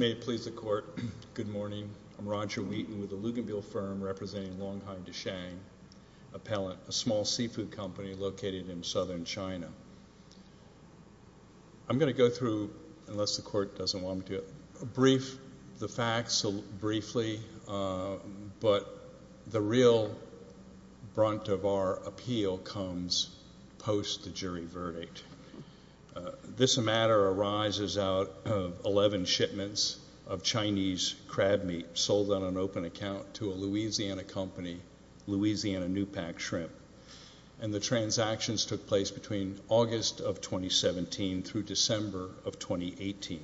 May it please the court, good morning. I'm Roger Wheaton with the Luganville firm representing Longhai Desheng Appellant, a small seafood company located in southern China. I'm going to go through, unless the court doesn't want me to, the facts briefly, but the real brunt of our appeal comes post the jury verdict. This matter arises out of 11 shipments of Chinese crab meat sold on an open account to a Louisiana company, Louisiana Newpack Shrimp, and the transactions took place between August of 2017 through December of 2018.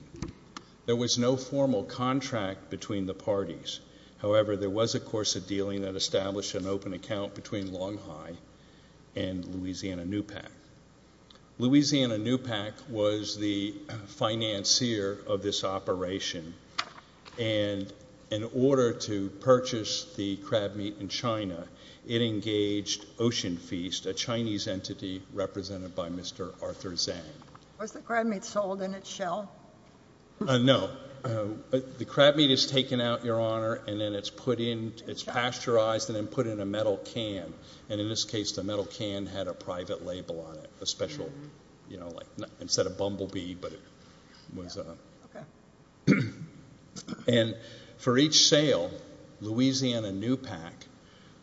There was no formal contract between the parties. However, there was, of course, a dealing that took place between Longhai and Louisiana Newpack. Louisiana Newpack was the financier of this operation, and in order to purchase the crab meat in China, it engaged Ocean Feast, a Chinese entity represented by Mr. Arthur Zhang. Was the crab meat sold in its shell? No. The crab meat is taken out, Your Honor, and then it's pasteurized and then put in a metal can, and in this case, the metal can had a private label on it, a special, you know, like, instead of bumblebee, but it was a, and for each sale, Louisiana Newpack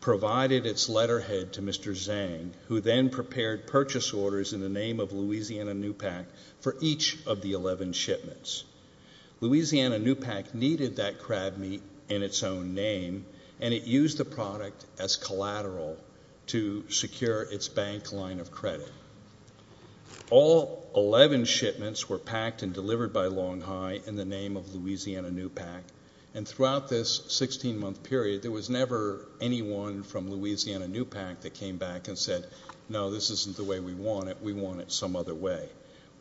provided its letterhead to Mr. Zhang, who then prepared purchase orders in the name of Louisiana Newpack for each of the 11 shipments. Louisiana Newpack needed that crab meat in its own name, and it used the product as collateral to secure its bank line of credit. All 11 shipments were packed and delivered by Longhai in the name of Louisiana Newpack, and throughout this 16-month period, there was never anyone from Louisiana Newpack that came back and said, no, this isn't the way we want it. We want it some other way.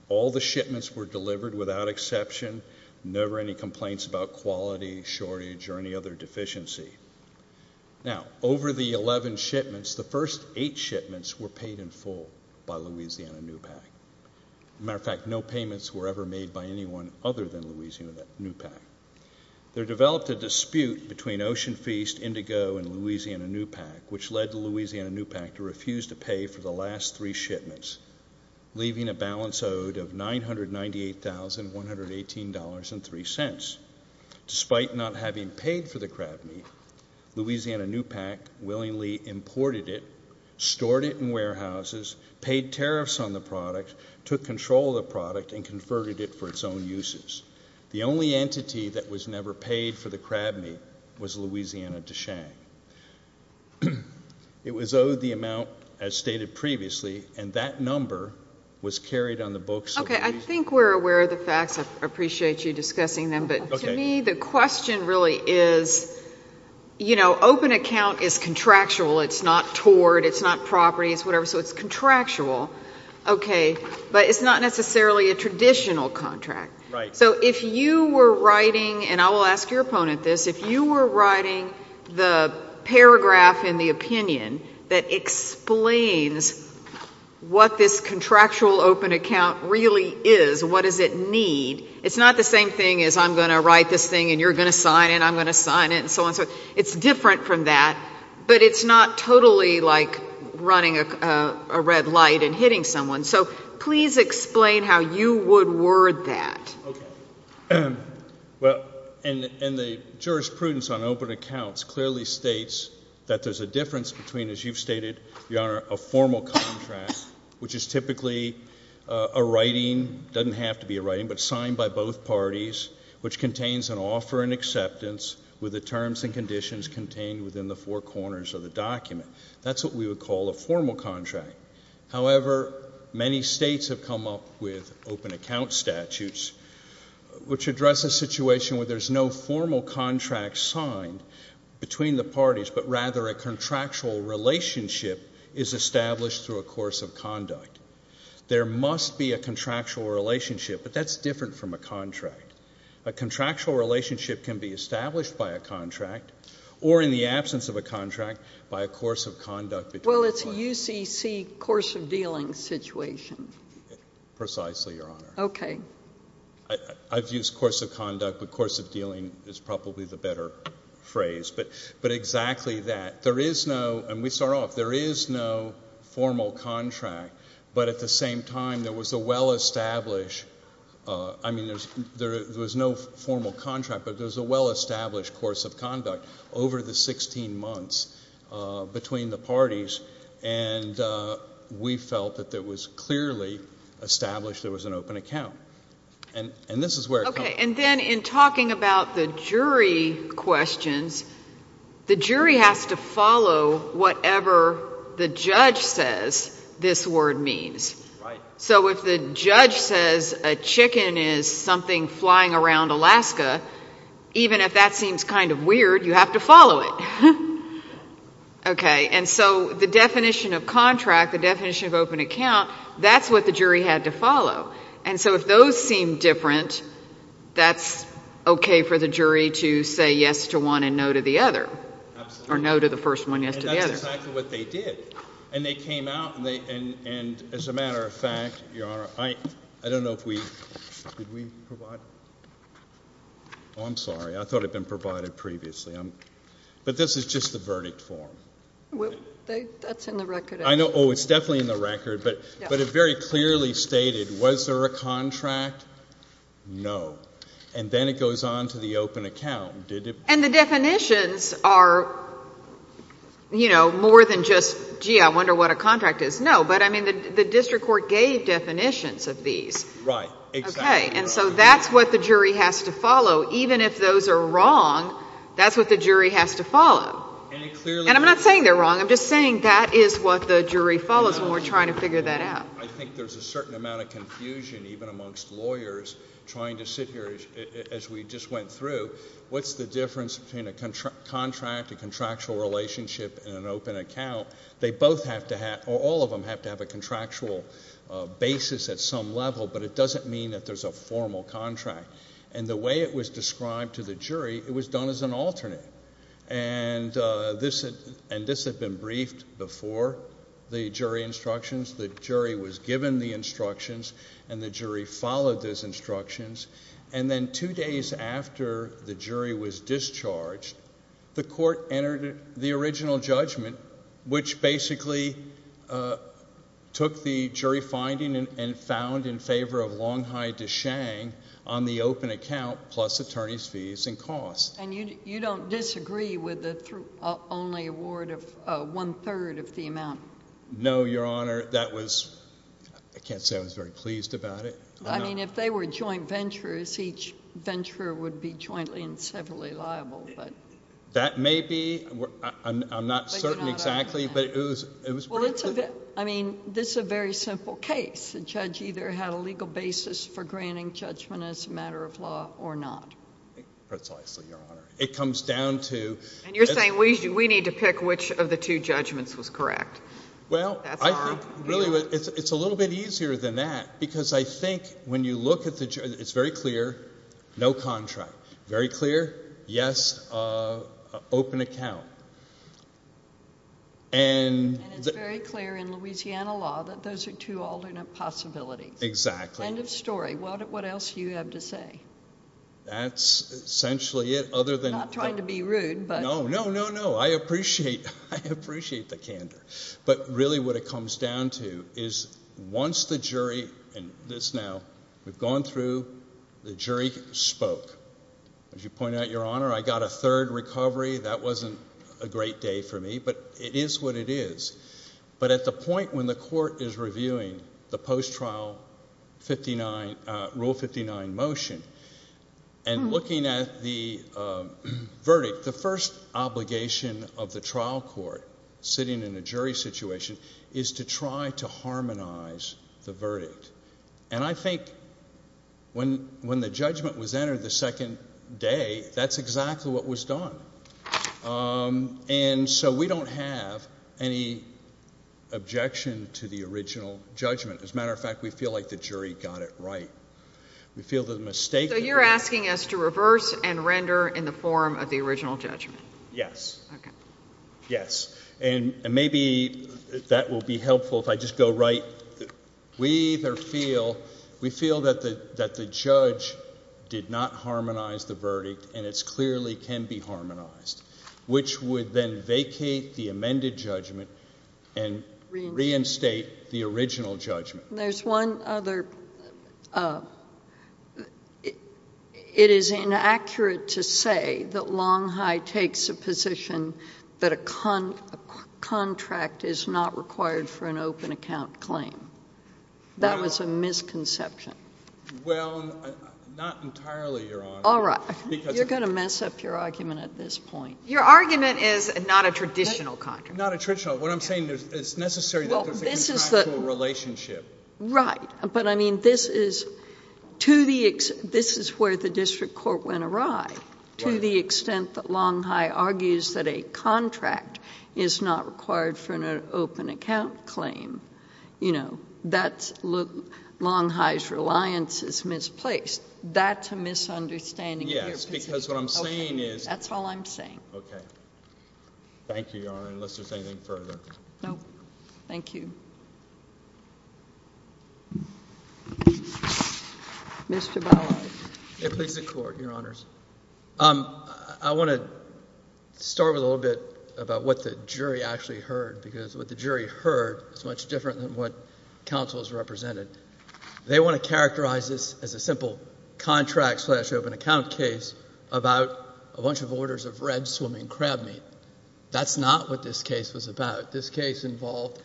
All the shipments were delivered without exception, never any complaints about quality, shortage, or any other deficiency. Now, over the 11 shipments, the first eight shipments were paid in full by Louisiana Newpack. As a matter of fact, no payments were ever made by anyone other than Louisiana Newpack. There developed a dispute between Ocean Feast, Indigo, and Louisiana Newpack, which led Louisiana Newpack to refuse to pay for the last three shipments, leaving a balance owed of $998,118.03. Despite not having paid for the crab meat, Louisiana Newpack willingly imported it, stored it in warehouses, paid tariffs on the product, took control of the product, and converted it for its own uses. The only entity that was never paid for the crab meat was Louisiana DeShang. It was owed the amount as stated previously, and that number was carried on the books of Louisiana Newpack. Okay. I think we're aware of the facts. I appreciate you discussing them, but to me, the question really is, you know, open account is contractual. It's not tort. It's not property. It's whatever. So it's contractual. Okay. But it's not necessarily a traditional contract. Right. So if you were writing, and I will ask your opponent this, if you were writing the paragraph in the opinion that explains what this contractual open account really is, what does it need, it's not the same thing as I'm going to write this thing, and you're going to sign it, and I'm going to sign it, and so on and so forth. It's different from that, but it's not totally like running a red light and hitting someone. So please explain how you would word that. Okay. Well, and the jurisprudence on open accounts clearly states that there's a difference between, as you've stated, your Honor, a formal contract, which is typically a writing, doesn't have to be a writing, but signed by both parties, which contains an offer and acceptance with the terms and conditions contained within the four corners of the document. That's what we would call a formal contract. However, many states have come up with open account statutes, which address a situation where there's no formal contract signed between the parties, but rather a contractual relationship is established through a course of conduct. There must be a contractual relationship, but that's different from a contract. A contractual relationship can be established by a contract, or in the absence of a contract, by a course of conduct. Well, it's a UCC course of dealing situation. Precisely, Your Honor. Okay. I've used course of conduct, but course of dealing is probably the better phrase, but exactly that. There is no, and we start off, there is no formal contract, but at the same time, there was a well-established, I mean, there was no formal contract, but there's a well-established course of conduct over the 16 months between the parties, and we felt that there was clearly established there was an open account. And this is where it comes from. Okay. And then in talking about the jury questions, the jury has to follow whatever the judge says this word means. Right. So if the judge says a chicken is something flying around Alaska, even if that seems kind of weird, you have to follow it. Okay. And so the definition of contract, the definition of open account, that's what the jury had to follow. And so if those seem different, that's okay for the jury to say yes to one and no to the other. Absolutely. Or no to the first one, yes to the other. And that's exactly what they did. And they came out, and as a matter of fact, Your Honor, I don't know if we, could we provide that? Oh, I'm sorry. I thought it had been provided previously. But this is just the verdict form. That's in the record. I know. Oh, it's definitely in the record, but it very clearly stated, was there a contract? No. And then it goes on to the open account. And the definitions are, you know, more than just, gee, I wonder what a contract is. No, but I mean, the district court gave definitions of these. Right. Exactly. Okay. And so that's what the jury has to follow. Even if those are wrong, that's what the jury has to follow. And it clearly... And I'm not saying they're wrong. I'm just saying that is what the jury follows when we're trying to figure that out. I think there's a certain amount of confusion, even amongst lawyers, trying to sit here, as we just went through, what's the difference between a contract, a contractual relationship, and an open account? They both have to have, or all of them have to have a contractual basis at some level, but it doesn't mean that there's a formal contract. And the way it was described to the jury, it was done as an alternate. And this had been briefed before the jury instructions. The jury was given the instructions, and the jury followed those instructions. And then two days after the jury was discharged, the court entered the original judgment, which basically took the shang on the open account, plus attorney's fees and costs. And you don't disagree with the only award of one-third of the amount? No, Your Honor. That was... I can't say I was very pleased about it. I mean, if they were joint venturers, each venturer would be jointly and severally liable, but... That may be. I'm not certain exactly, but it was... I mean, this is a very simple case. The judge either had a legal basis for granting judgment as a matter of law or not. Precisely, Your Honor. It comes down to... And you're saying we need to pick which of the two judgments was correct. Well, I think really it's a little bit easier than that, because I think when you look at the... It's very clear, no contract. Very clear, yes, open account. And it's very clear in Louisiana law that those are two alternate possibilities. Exactly. End of story. What else do you have to say? That's essentially it other than... I'm not trying to be rude, but... No, no, no, no. I appreciate the candor. But really what it comes down to is once the jury... And this now, we've gone through, the jury spoke. As you pointed out, Your Honor, I got a third recovery. That wasn't a great day for me, but it is what it is. But at the point when the court is reviewing the post-trial Rule 59 motion and looking at the verdict, the first obligation of the trial court sitting in a jury situation is to try to harmonize the verdict. And I think when the judgment was entered the second day, that's exactly what was done. And so we don't have any objection to the original judgment. As a matter of fact, we feel like the jury got it right. We feel the mistake... So you're asking us to reverse and render in the form of the original judgment? Yes. Okay. Yes. And maybe that will be helpful if I just go right... We either feel... We feel that the judge did not harmonize the verdict, and it clearly can be harmonized, which would then vacate the amended judgment and reinstate the original judgment. There's one other... It is inaccurate to say that Long High takes the original judgment and makes a position that a contract is not required for an open account claim. That was a misconception. Well, not entirely, Your Honor. All right. You're going to mess up your argument at this point. Your argument is not a traditional contract. Not a traditional. What I'm saying is it's necessary that there's a contractual relationship. Right. But I mean, this is to the extent... The judge argues that a contract is not required for an open account claim. You know, that's... Long High's reliance is misplaced. That's a misunderstanding of your position. Yes, because what I'm saying is... That's all I'm saying. Okay. Thank you, Your Honor, unless there's anything further. No. Thank you. Mr. Ballard. Please, the Court, Your Honors. I want to start with a little bit about what the jury actually heard, because what the jury heard is much different than what counsels represented. They want to characterize this as a simple contract-slash-open-account case about a bunch of orders of red-swimming crab meat. That's not what this case was about. This case involved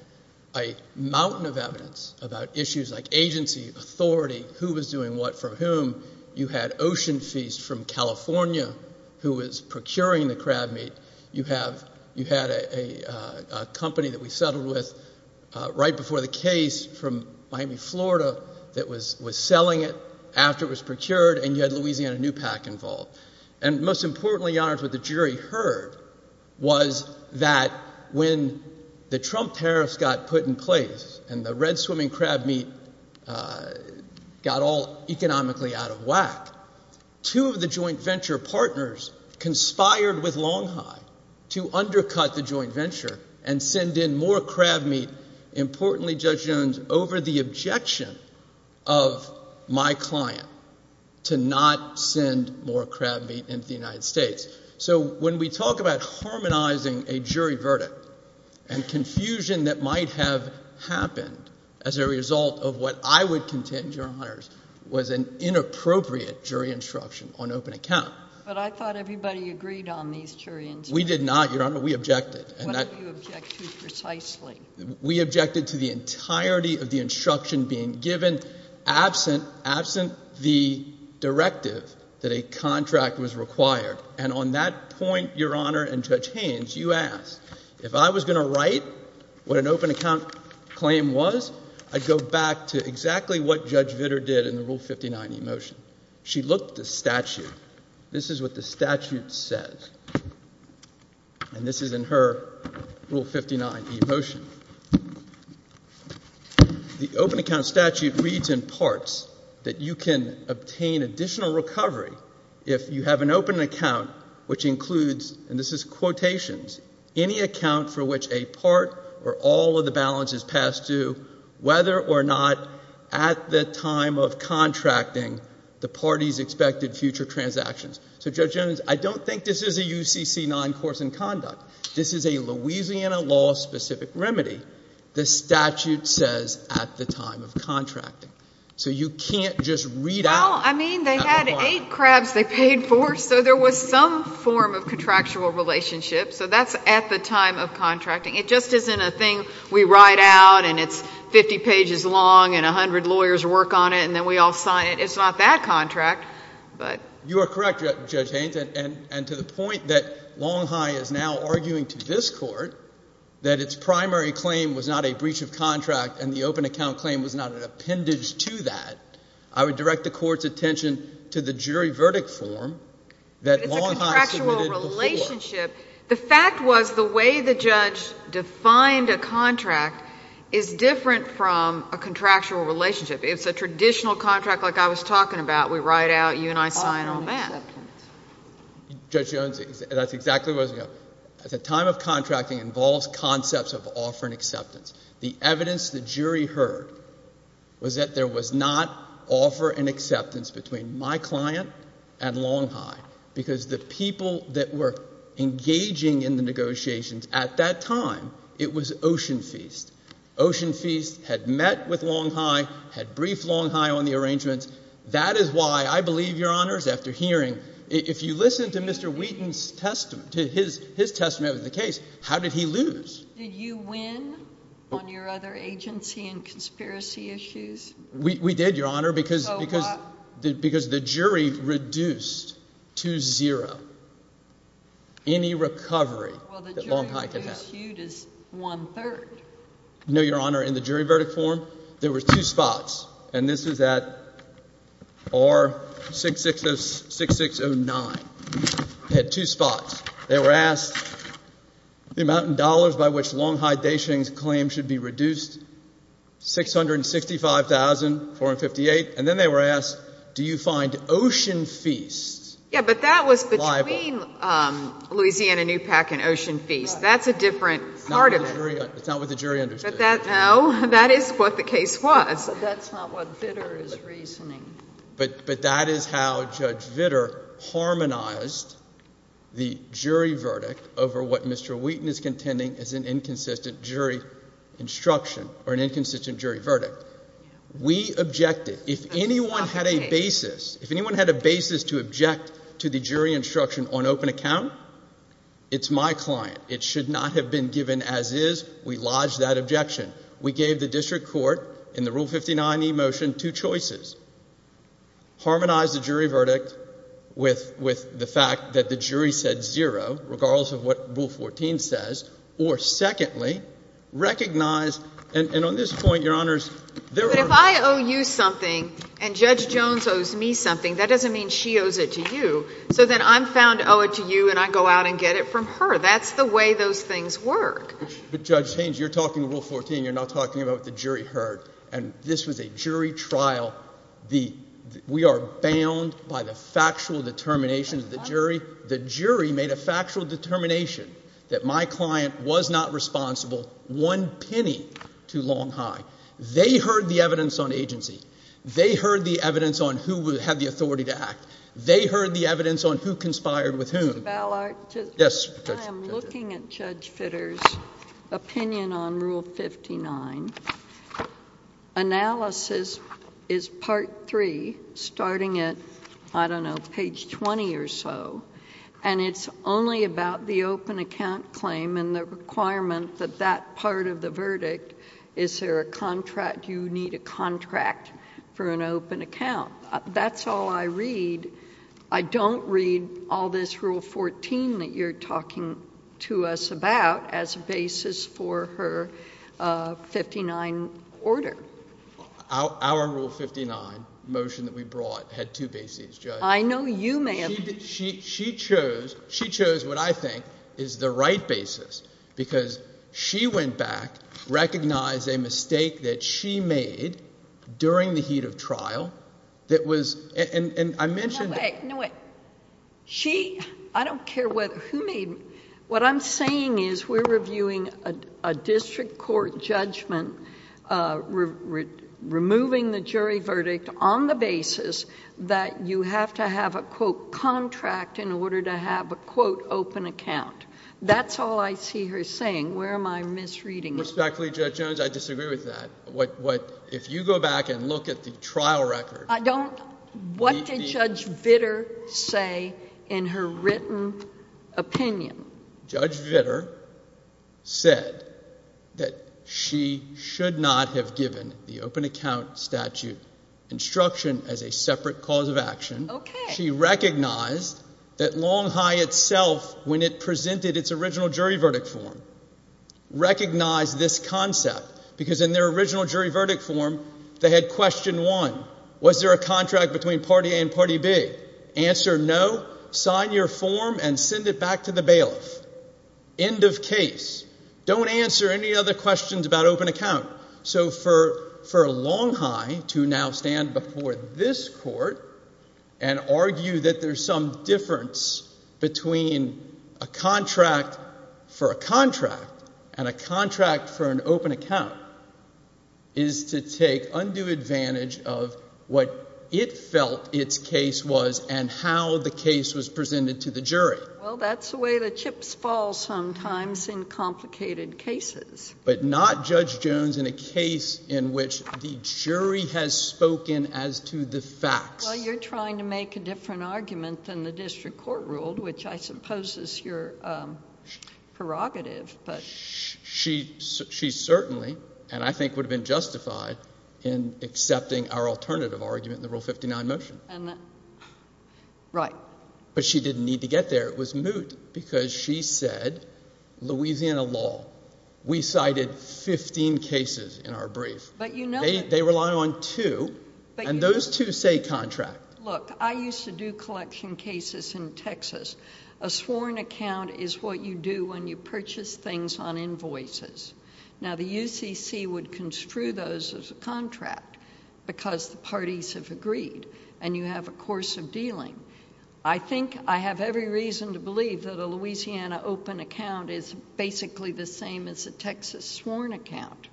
a mountain of evidence about issues like agency, authority, who was doing what for whom. You had Ocean Feast from California, who was procuring the crab meat. You had a company that we settled with right before the case from Miami, Florida, that was selling it after it was procured, and you had Louisiana Newpac involved. And most importantly, Your Honors, what the jury heard was that when the Trump tariffs got put in place and the red-swimming crab meat got all economically out of whack, two of the joint venture partners conspired with Longhive to undercut the joint venture and send in more crab meat, importantly, Judge Jones, over the objection of my client to not send more crab meat into the United States. So when we talk about harmonizing a jury verdict and confusion that might have happened as a result of what I would contend, Your Honors, was an inappropriate jury instruction on open account. But I thought everybody agreed on these jury instructions. We did not, Your Honor. We objected. What did you object to precisely? We objected to the entirety of the instruction being given absent the directive that a contract was required. And on that point, Your Honor and Judge Haynes, you asked, if I was going to write what an open account claim was, I would go back to exactly what Judge Vitter did in the Rule 59 eMotion. She looked at the statute. This is what the statute says. And this is in her Rule 59 eMotion. The open account statute reads in parts that you can obtain additional recovery if you have an open account which includes, and this is quotations, any account for which a part or all of the balance is passed to, whether or not at the time of contracting the parties expected future transactions. So, Judge Jones, I don't think this is a UCC-9 course in conduct. This is a Louisiana law specific remedy. The statute says at the time of contracting. So you can't just read out Well, I mean, they had eight crabs they paid for, so there was some form of contractual relationship. So that's at the time of contracting. It just isn't a thing we write out and it's 50 pages long and 100 lawyers work on it and then we all sign it. It's not that contract. You are correct, Judge Haynes. And to the point that Longhigh is now arguing to this Court that its primary claim was not a breach of contract and the open account claim was not an appendage to that, I would direct the Court's attention to the jury verdict form that Longhigh submitted before. It's a contractual relationship. The fact was the way the judge defined a contract is different from a contractual relationship. It's a traditional contract like I was talking about. We write out, you and I sign all that. Judge Jones, that's exactly what I was going to say. At the time of contracting involves concepts of offer and acceptance. The evidence the jury heard was that there was not offer and acceptance between my client and Longhigh because the people that were engaging in the negotiations at that time, it was Ocean Feast. Ocean Feast had met with Longhigh, had briefed Longhigh on the arrangements. That is why I believe, Your Honors, after hearing, if you listen to Mr. Wheaton's testament, to his testament of the case, how did he lose? Did you win on your other agency and conspiracy issues? We did, Your Honor, because the jury reduced to zero any recovery that Longhigh could have. Well, the jury reduced Hugh to one-third. No, Your Honor, in the jury verdict form, there were two spots. And this is at R6609. Had two spots. They were asked the amount in dollars by which Longhigh Dacheng's claim should be reduced, $665,458. And then they were asked, do you find Ocean Feast liable? Yeah, but that was between Louisiana NEWPAC and Ocean Feast. That's a different part of it. It's not what the jury understood. No, that is what the case was. That's not what Vitter is reasoning. But that is how Judge Vitter harmonized the jury verdict over what Mr. Wheaton is contending is an inconsistent jury instruction or an inconsistent jury verdict. We objected. If anyone had a basis, if anyone had a basis to object to the jury instruction on open account, it's my client. It should not have been given as is. We lodged that objection. We gave the district court, in the Rule 59e motion, two choices. Harmonize the jury verdict with the fact that the jury said zero, regardless of what Rule 14 says. Or secondly, recognize and on this point, Your Honors, there are... But if I owe you something and Judge Jones owes me something, that doesn't mean she owes it to you. So then I'm found to owe it to you and I go out and get it from her. That's the way those things work. But Judge Haynes, you're talking Rule 14. You're not talking about what the jury heard. And this was a jury trial. We are bound by the factual determination of the jury. The jury made a factual determination that my client was not responsible one penny too long high. They heard the evidence on agency. They heard the evidence on who had the authority to act. They heard the evidence on who conspired with whom. Mr. Ballard? Yes, Judge. I am looking at Judge Fitter's opinion on Rule 59. Analysis is part three, starting at, I don't know, page 20 or so, and it's only about the open account claim and the requirement that that part of the verdict, is there a contract, you need a contract for an open account. That's all I read. I don't read all this Rule 14 that you're talking to us about as a basis for her 59 order. Our Rule 59 motion that we brought had two bases, Judge. I know you may have... She chose what I think is the right basis because she went back, recognized a mistake that she made during the heat of trial that was... I mentioned... No way, no way. She, I don't care who made, what I'm saying is we're reviewing a district court judgment, removing the jury verdict on the basis that you have to have a, quote, contract in order to have a, quote, open account. That's all I see her saying. Where am I misreading it? With all due respect, Judge Jones, I disagree with that. If you go back and look at the trial record... What did Judge Vitter say in her written opinion? Judge Vitter said that she should not have given the open account statute instruction as a separate cause of action. She recognized that Long High itself, when it presented its original jury verdict form, recognized this concept because in their original jury verdict form, they had question one. Was there a contract between party A and party B? Answer, no. Sign your form and send it back to the bailiff. End of case. Don't answer any other questions about open account. So for Long High to now stand before this court and argue that there's some difference between a contract for a contract and a contract for an open account is to take undue advantage of what it felt its case was and how the case was presented to the jury. Well, that's the way the chips fall sometimes in complicated cases. But not, Judge Jones, in a case in which the jury has spoken as to the facts. Well, you're trying to make a different argument than the district court ruled, which I suppose is your prerogative, but... She certainly, and I think would have been justified, in accepting our alternative argument in the Rule 59 motion. Right. But she didn't need to get there. It was moot because she said, Louisiana law. We cited 15 cases in our brief. They rely on two, and those two say contract. Look, I used to do collection cases in Texas. A sworn account is what you do when you purchase things on invoices. Now, the UCC would construe those as a contract because the parties have agreed and you have a course of dealing. I think I have every reason to believe that a Louisiana open account is basically the same as a Texas sworn account.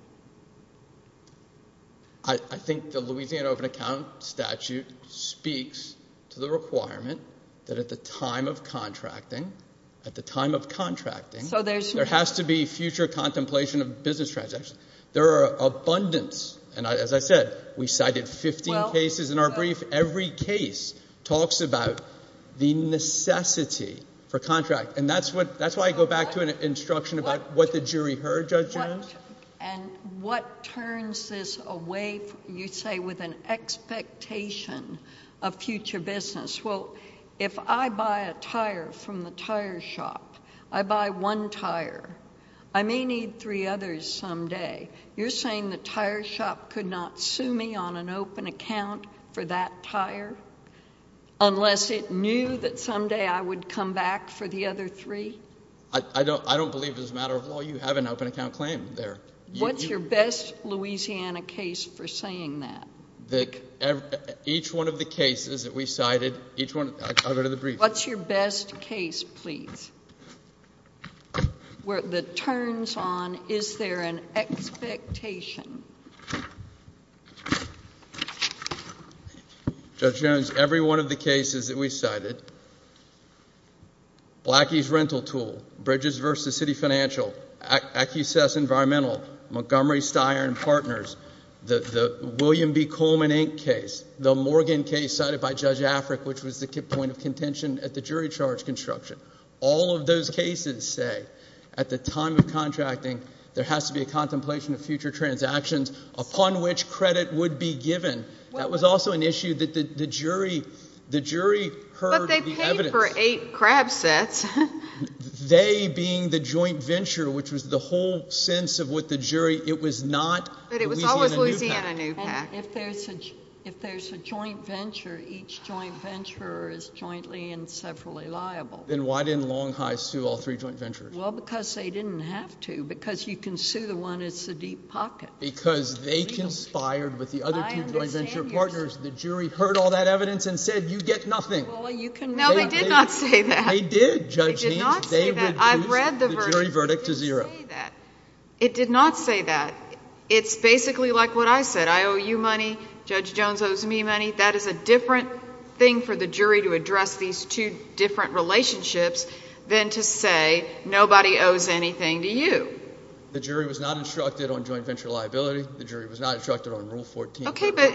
I think the Louisiana open account statute speaks to the requirement that at the time of contracting, there has to be future contemplation of business transactions. There are abundance, and as I said, we cited 15 cases in our brief. Every case talks about the necessity for contracting and that's why I go back to an instruction about what the jury heard, Judge Jones. What turns this away, you say, with an expectation of future business? Well, if I buy a tire from the tire shop, I buy one tire. I may need three others someday. You're saying the tire shop could not sue me on an open account for that tire unless it knew that someday I would come back for the other three? I don't believe it's a matter of law. You have an open account claim there. What's your best Louisiana case for saying that? Each one of the cases that we cited, each one... I'll go to the brief. What's your best case, please, that turns on, is there an expectation? Judge Jones, every one of the cases that we cited... Blackie's rental tool, Bridges v. City Financial, Accusess Environmental, Montgomery Steyer and Partners, the William B. Coleman Inc. case, the Morgan case cited by Judge Afric, which was the point of contention at the jury charge construction. All of those cases say at the time of contracting, there has to be a contemplation of future transactions upon which credit would be given. That was also an issue that the jury heard the evidence... They being the joint venture, which was the whole sense of what the jury... It was not the Louisiana new pact. But it was always Louisiana new pact. If there's a joint venture, each joint venture is jointly and severally liable. Then why didn't Long High sue all three joint ventures? Well, because they didn't have to. Because you can sue the one that's a deep pocket. Because they conspired with the other two joint venture partners. The jury heard all that evidence and said, you get nothing. Well, you can... No, they did not say that. They did, Judge Haynes. They reduced the jury verdict to zero. It did not say that. It's basically like what I said. I owe you money. Judge Jones owes me money. That is a different thing for the jury to address these two different relationships than to say, nobody owes anything to you. The jury was not instructed on joint venture liability. The jury was not instructed on Rule 14. Okay, but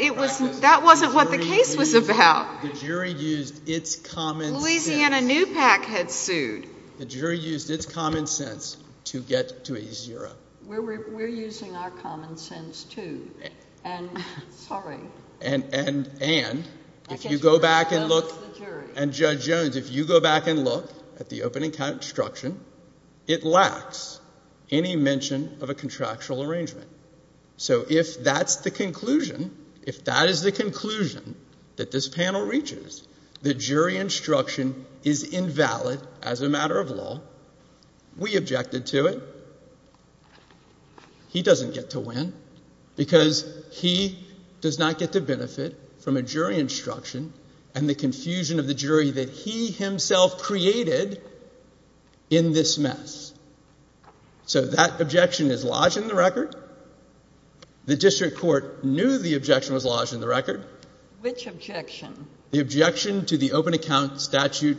that wasn't what the case was about. The jury used its common sense. Louisiana new pact had sued. The jury used its common sense to get to a zero. We're using our common sense, too. Sorry. And if you go back and look... And Judge Jones, if you go back and look at the opening count instruction, it lacks any mention of a contractual arrangement. So if that's the conclusion, if that is the conclusion that this panel reaches, that jury instruction is invalid as a matter of law, we objected to it. He doesn't get to win because he does not get to benefit from a jury instruction and the confusion of the jury that he himself created in this mess. So that objection is lodged in the record. The district court knew the objection was lodged in the record. Which objection? The objection to the open account statute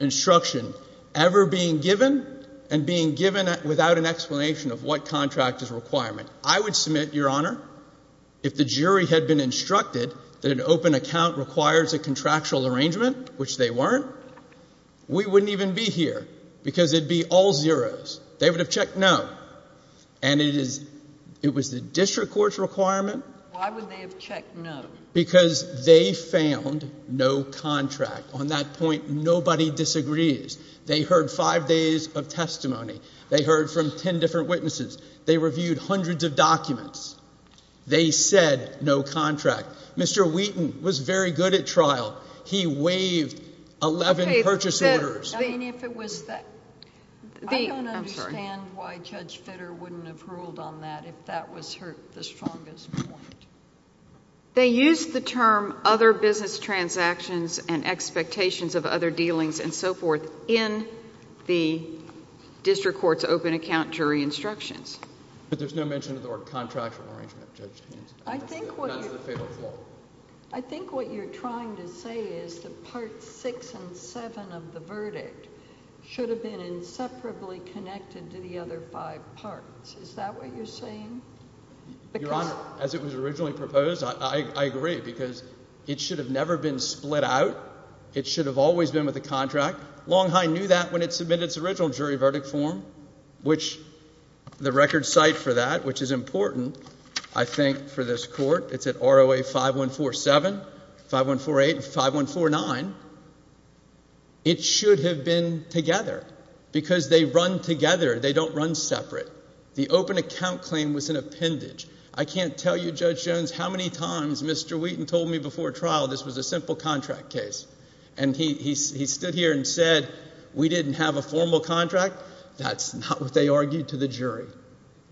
instruction ever being given and being given without an explanation of what contract is a requirement. I would submit, Your Honor, if the jury had been instructed that an open account requires a contractual arrangement, which they weren't, we wouldn't even be here because it would be all zeroes. They would have checked no. And it is... It was the district court's requirement... Why would they have checked no? Because they found no contract. On that point, nobody disagrees. They heard five days of no contract. They said no contract. Mr. Wheaton was very good at trial. He waived 11 purchase orders. Okay. I mean, if it was that... I don't understand why Judge Fitter wouldn't have ruled on that if that was her... the strongest point. They used the term other business transactions and expectations of other dealings and so forth in the district court's open account jury instructions. But there's no mention of the word contractual arrangement, Judge Hanson. I think what you're... That's the fatal flaw. I think what you're trying to say is that Parts 6 and 7 of the verdict should have been inseparably connected to the other five parts. Is that what you're saying? Your Honor, as it was originally proposed, I agree because it should have never been split out. It should have always been with a contract. Longhine knew that when it submitted its original jury verdict form, which the record cite for that, which is important, I think, for this court, it's at ROA 5147, 5148, and 5149. It should have been together because they run together. They don't run separate. The open account claim was an appendage. I can't tell you, Judge Jones, how many times Mr. Wheaton told me before trial this was a simple contract case. And he stood here and said, we didn't have a formal contract. That's not what they argued to the jury.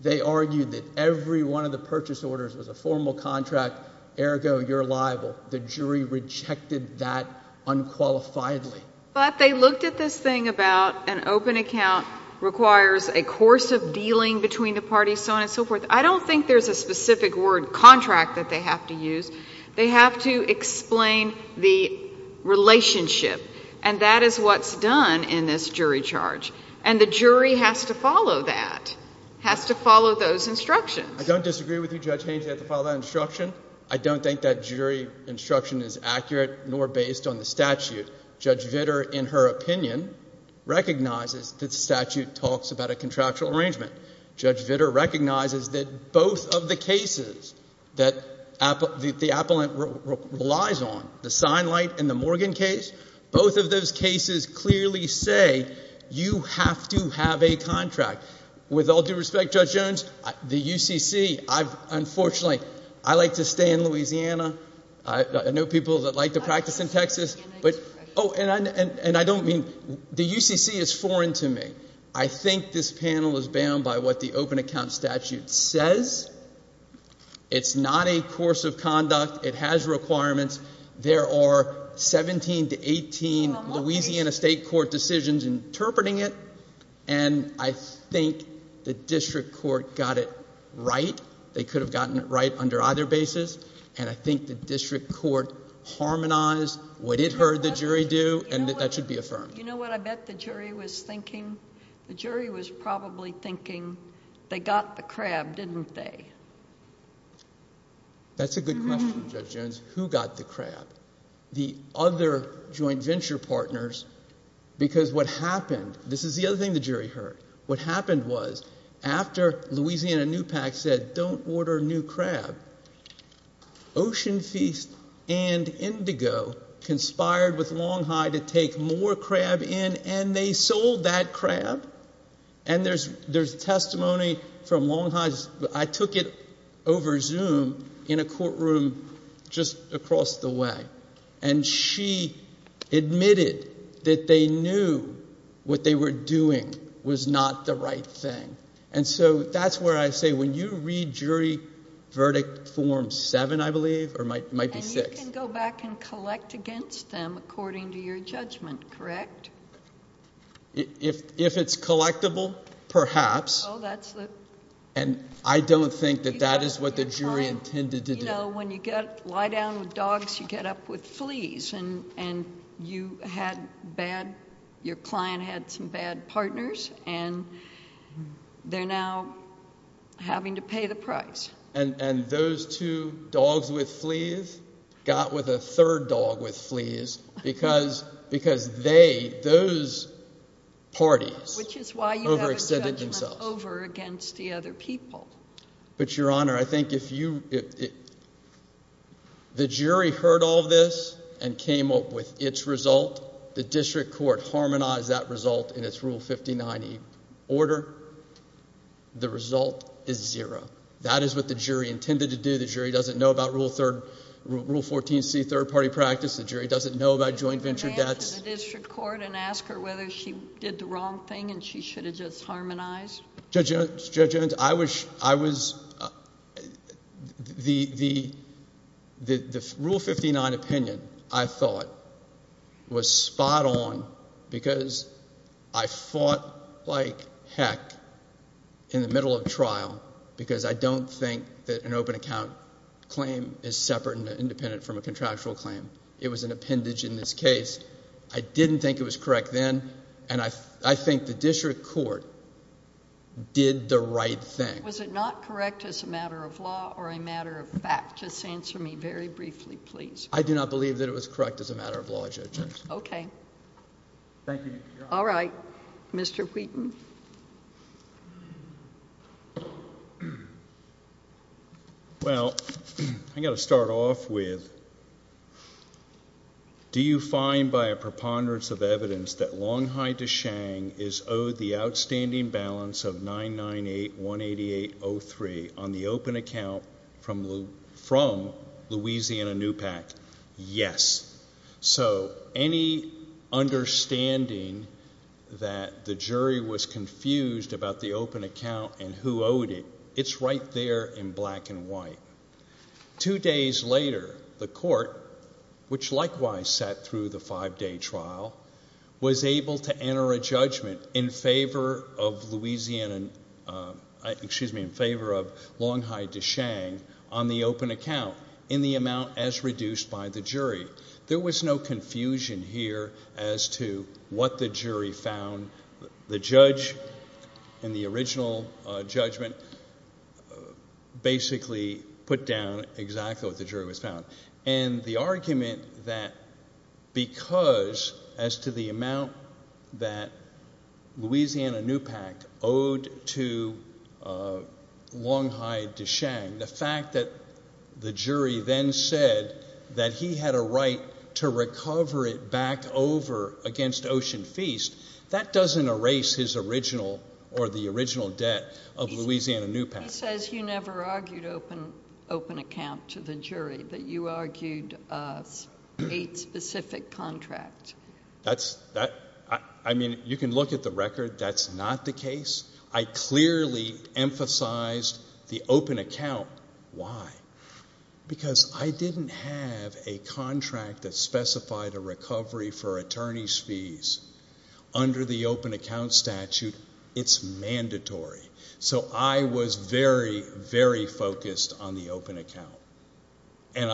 They argued that every one of the purchase orders was a formal contract, ergo, you're liable. The jury rejected that unqualifiedly. But they looked at this thing about an open account requires a course of dealing between the parties, so on and so forth. I don't think there's a specific word contract that they have to use. They have to explain the relationship. And that is what's done in this jury charge. And the jury has to follow that, has to follow those instructions. I don't disagree with you, Judge Haynes. You have to follow that instruction. I don't think that jury instruction is accurate nor based on the statute. Judge Vitter, in her opinion, recognizes that the statute talks about a contractual arrangement. Judge Vitter recognizes that both of the cases that the appellant relies on, the Seinleit and the Morgan case, both of those cases clearly say you have to have a contract. With all due respect, Judge Jones, the UCC, I've, unfortunately, I like to stay in Louisiana. I know people that like to practice in Texas. But, oh, and I don't mean, the UCC is foreign to me. I think this panel is bound by what the open account statute says. It's not a course of conduct. It has requirements. There are 17 to 18 Louisiana state court decisions interpreting it. And I think the district court got it right. They could have gotten it right under either basis. And I think the district court harmonized what it heard the jury do. And that should be affirmed. You know what I bet the jury was thinking? The jury was probably thinking, they got the crab, didn't they? That's a good question, Judge Jones. Who got the crab? The other joint venture partners. Because what happened, this is the other thing the jury heard. What happened was, after Louisiana NUPAC said, don't order new crab, Ocean Feast and Indigo conspired with Long High to take more crab in, and they sold that crab. And there's testimony from Long High's, I took it over Zoom, in a courtroom just across the way. And she admitted that they knew what they were doing was not the right thing. And so that's where I say, when you read jury verdict form seven, I believe, or it might be six. You can go back and collect against them according to your judgment, correct? If it's collectible, perhaps. And I don't think that that is what the jury intended to do. You know, when you lie down with dogs, you get up with fleas. And you had bad, your client had some bad partners, and they're now having to pay the price. And those two dogs with fleas got with a third dog with fleas, because they, those parties overextended themselves. Which is why you have a judgment over against the other people. But Your Honor, I think if you, the jury heard all this and came up with its result, the district court harmonized that result in its Rule 59E order, the result is zero. That is what the jury intended to do. The jury doesn't know about Rule 14C, third party practice. The jury doesn't know about joint venture debts. Could you go back to the district court and ask her whether she did the wrong thing and she should have just harmonized? Judge Jones, I was, the Rule 59 opinion, I thought, was spot on because I fought like an open account claim is separate and independent from a contractual claim. It was an appendage in this case. I didn't think it was correct then, and I think the district court did the right thing. Was it not correct as a matter of law or a matter of fact? Just answer me very briefly, please. I do not believe that it was correct as a matter of law, Judge Jones. Okay. Thank you, Ms. McGraw. All right. Mr. Wheaton. Well, I've got to start off with, do you find by a preponderance of evidence that Long Hyde DeShang is owed the outstanding balance of $998,188.03 on the open account from Louisiana NUPAC? Yes. So any understanding that the jury was confused about the open account and who owed it, it's right there in black and white. Two days later, the court, which likewise sat through the five-day trial, was able to enter a judgment in favor of Long Hyde DeShang on the open account in the amount as reduced by the jury. There was no confusion here as to what the jury found. The judge in the original judgment basically put down exactly what the jury was found. And the argument that because as to the amount that Louisiana NUPAC owed to Long Hyde DeShang, the fact that the jury then said that he had a right to recover it back over against Ocean Feast, that doesn't erase his original or the original debt of Louisiana NUPAC. He says you never argued open account to the jury, but you argued a specific contract. I mean, you can look at the record. That's not the case. I clearly emphasized the open account. Why? Because I didn't have a contract that specified a recovery for attorney's fees under the open account statute. It's mandatory. So I was very, very focused on the open account. And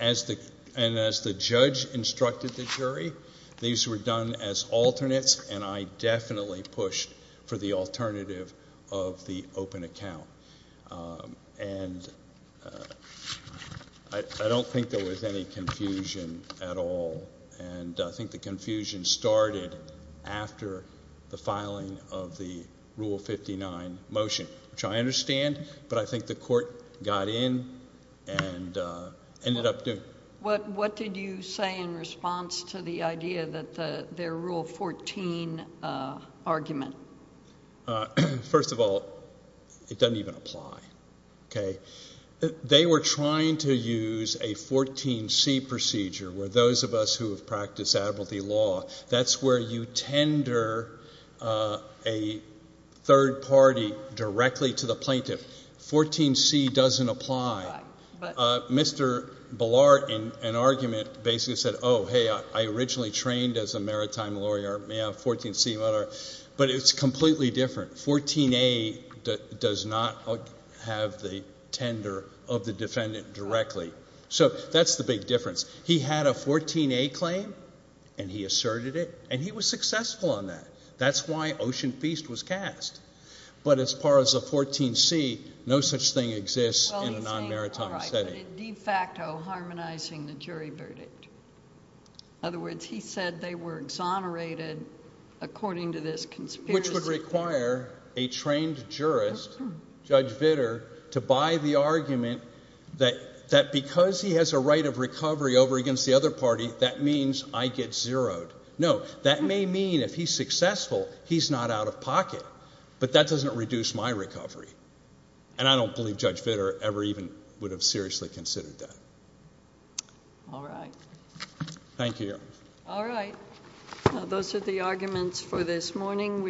as the judge instructed the jury, these were done as alternates, and I definitely pushed for the alternative of the open account. And I don't think there was any confusion at all. And I think the confusion started after the court, I don't understand, but I think the court got in and ended up doing it. What did you say in response to the idea that their Rule 14 argument? First of all, it doesn't even apply. They were trying to use a 14C procedure where those of us who have practiced admiralty law, that's where you tender a third party directly to the plaintiff. 14C doesn't apply. Mr. Ballart, in an argument, basically said, oh, hey, I originally trained as a maritime lawyer, may I have 14C, whatever. But it's completely different. 14A does not have the tender of the defendant directly. So that's the big difference. He had a 14A claim, and he asserted it, and he was successful on that. That's why Ocean Feast was cast. But as far as a 14C, no such thing exists in a non-maritime setting. Well, he's saying, all right, but it de facto harmonizing the jury verdict. In other words, he said they were exonerated according to this conspiracy. Which would require a trained jurist, Judge Vitter, to buy the argument that because he has a right of recovery over against the other party, that means I get zeroed. No, that may mean if he's successful, he's not out of pocket. But that doesn't reduce my recovery. And I don't believe Judge Vitter ever even would have seriously considered that. All right. Thank you. All right. Those are the arguments for this morning.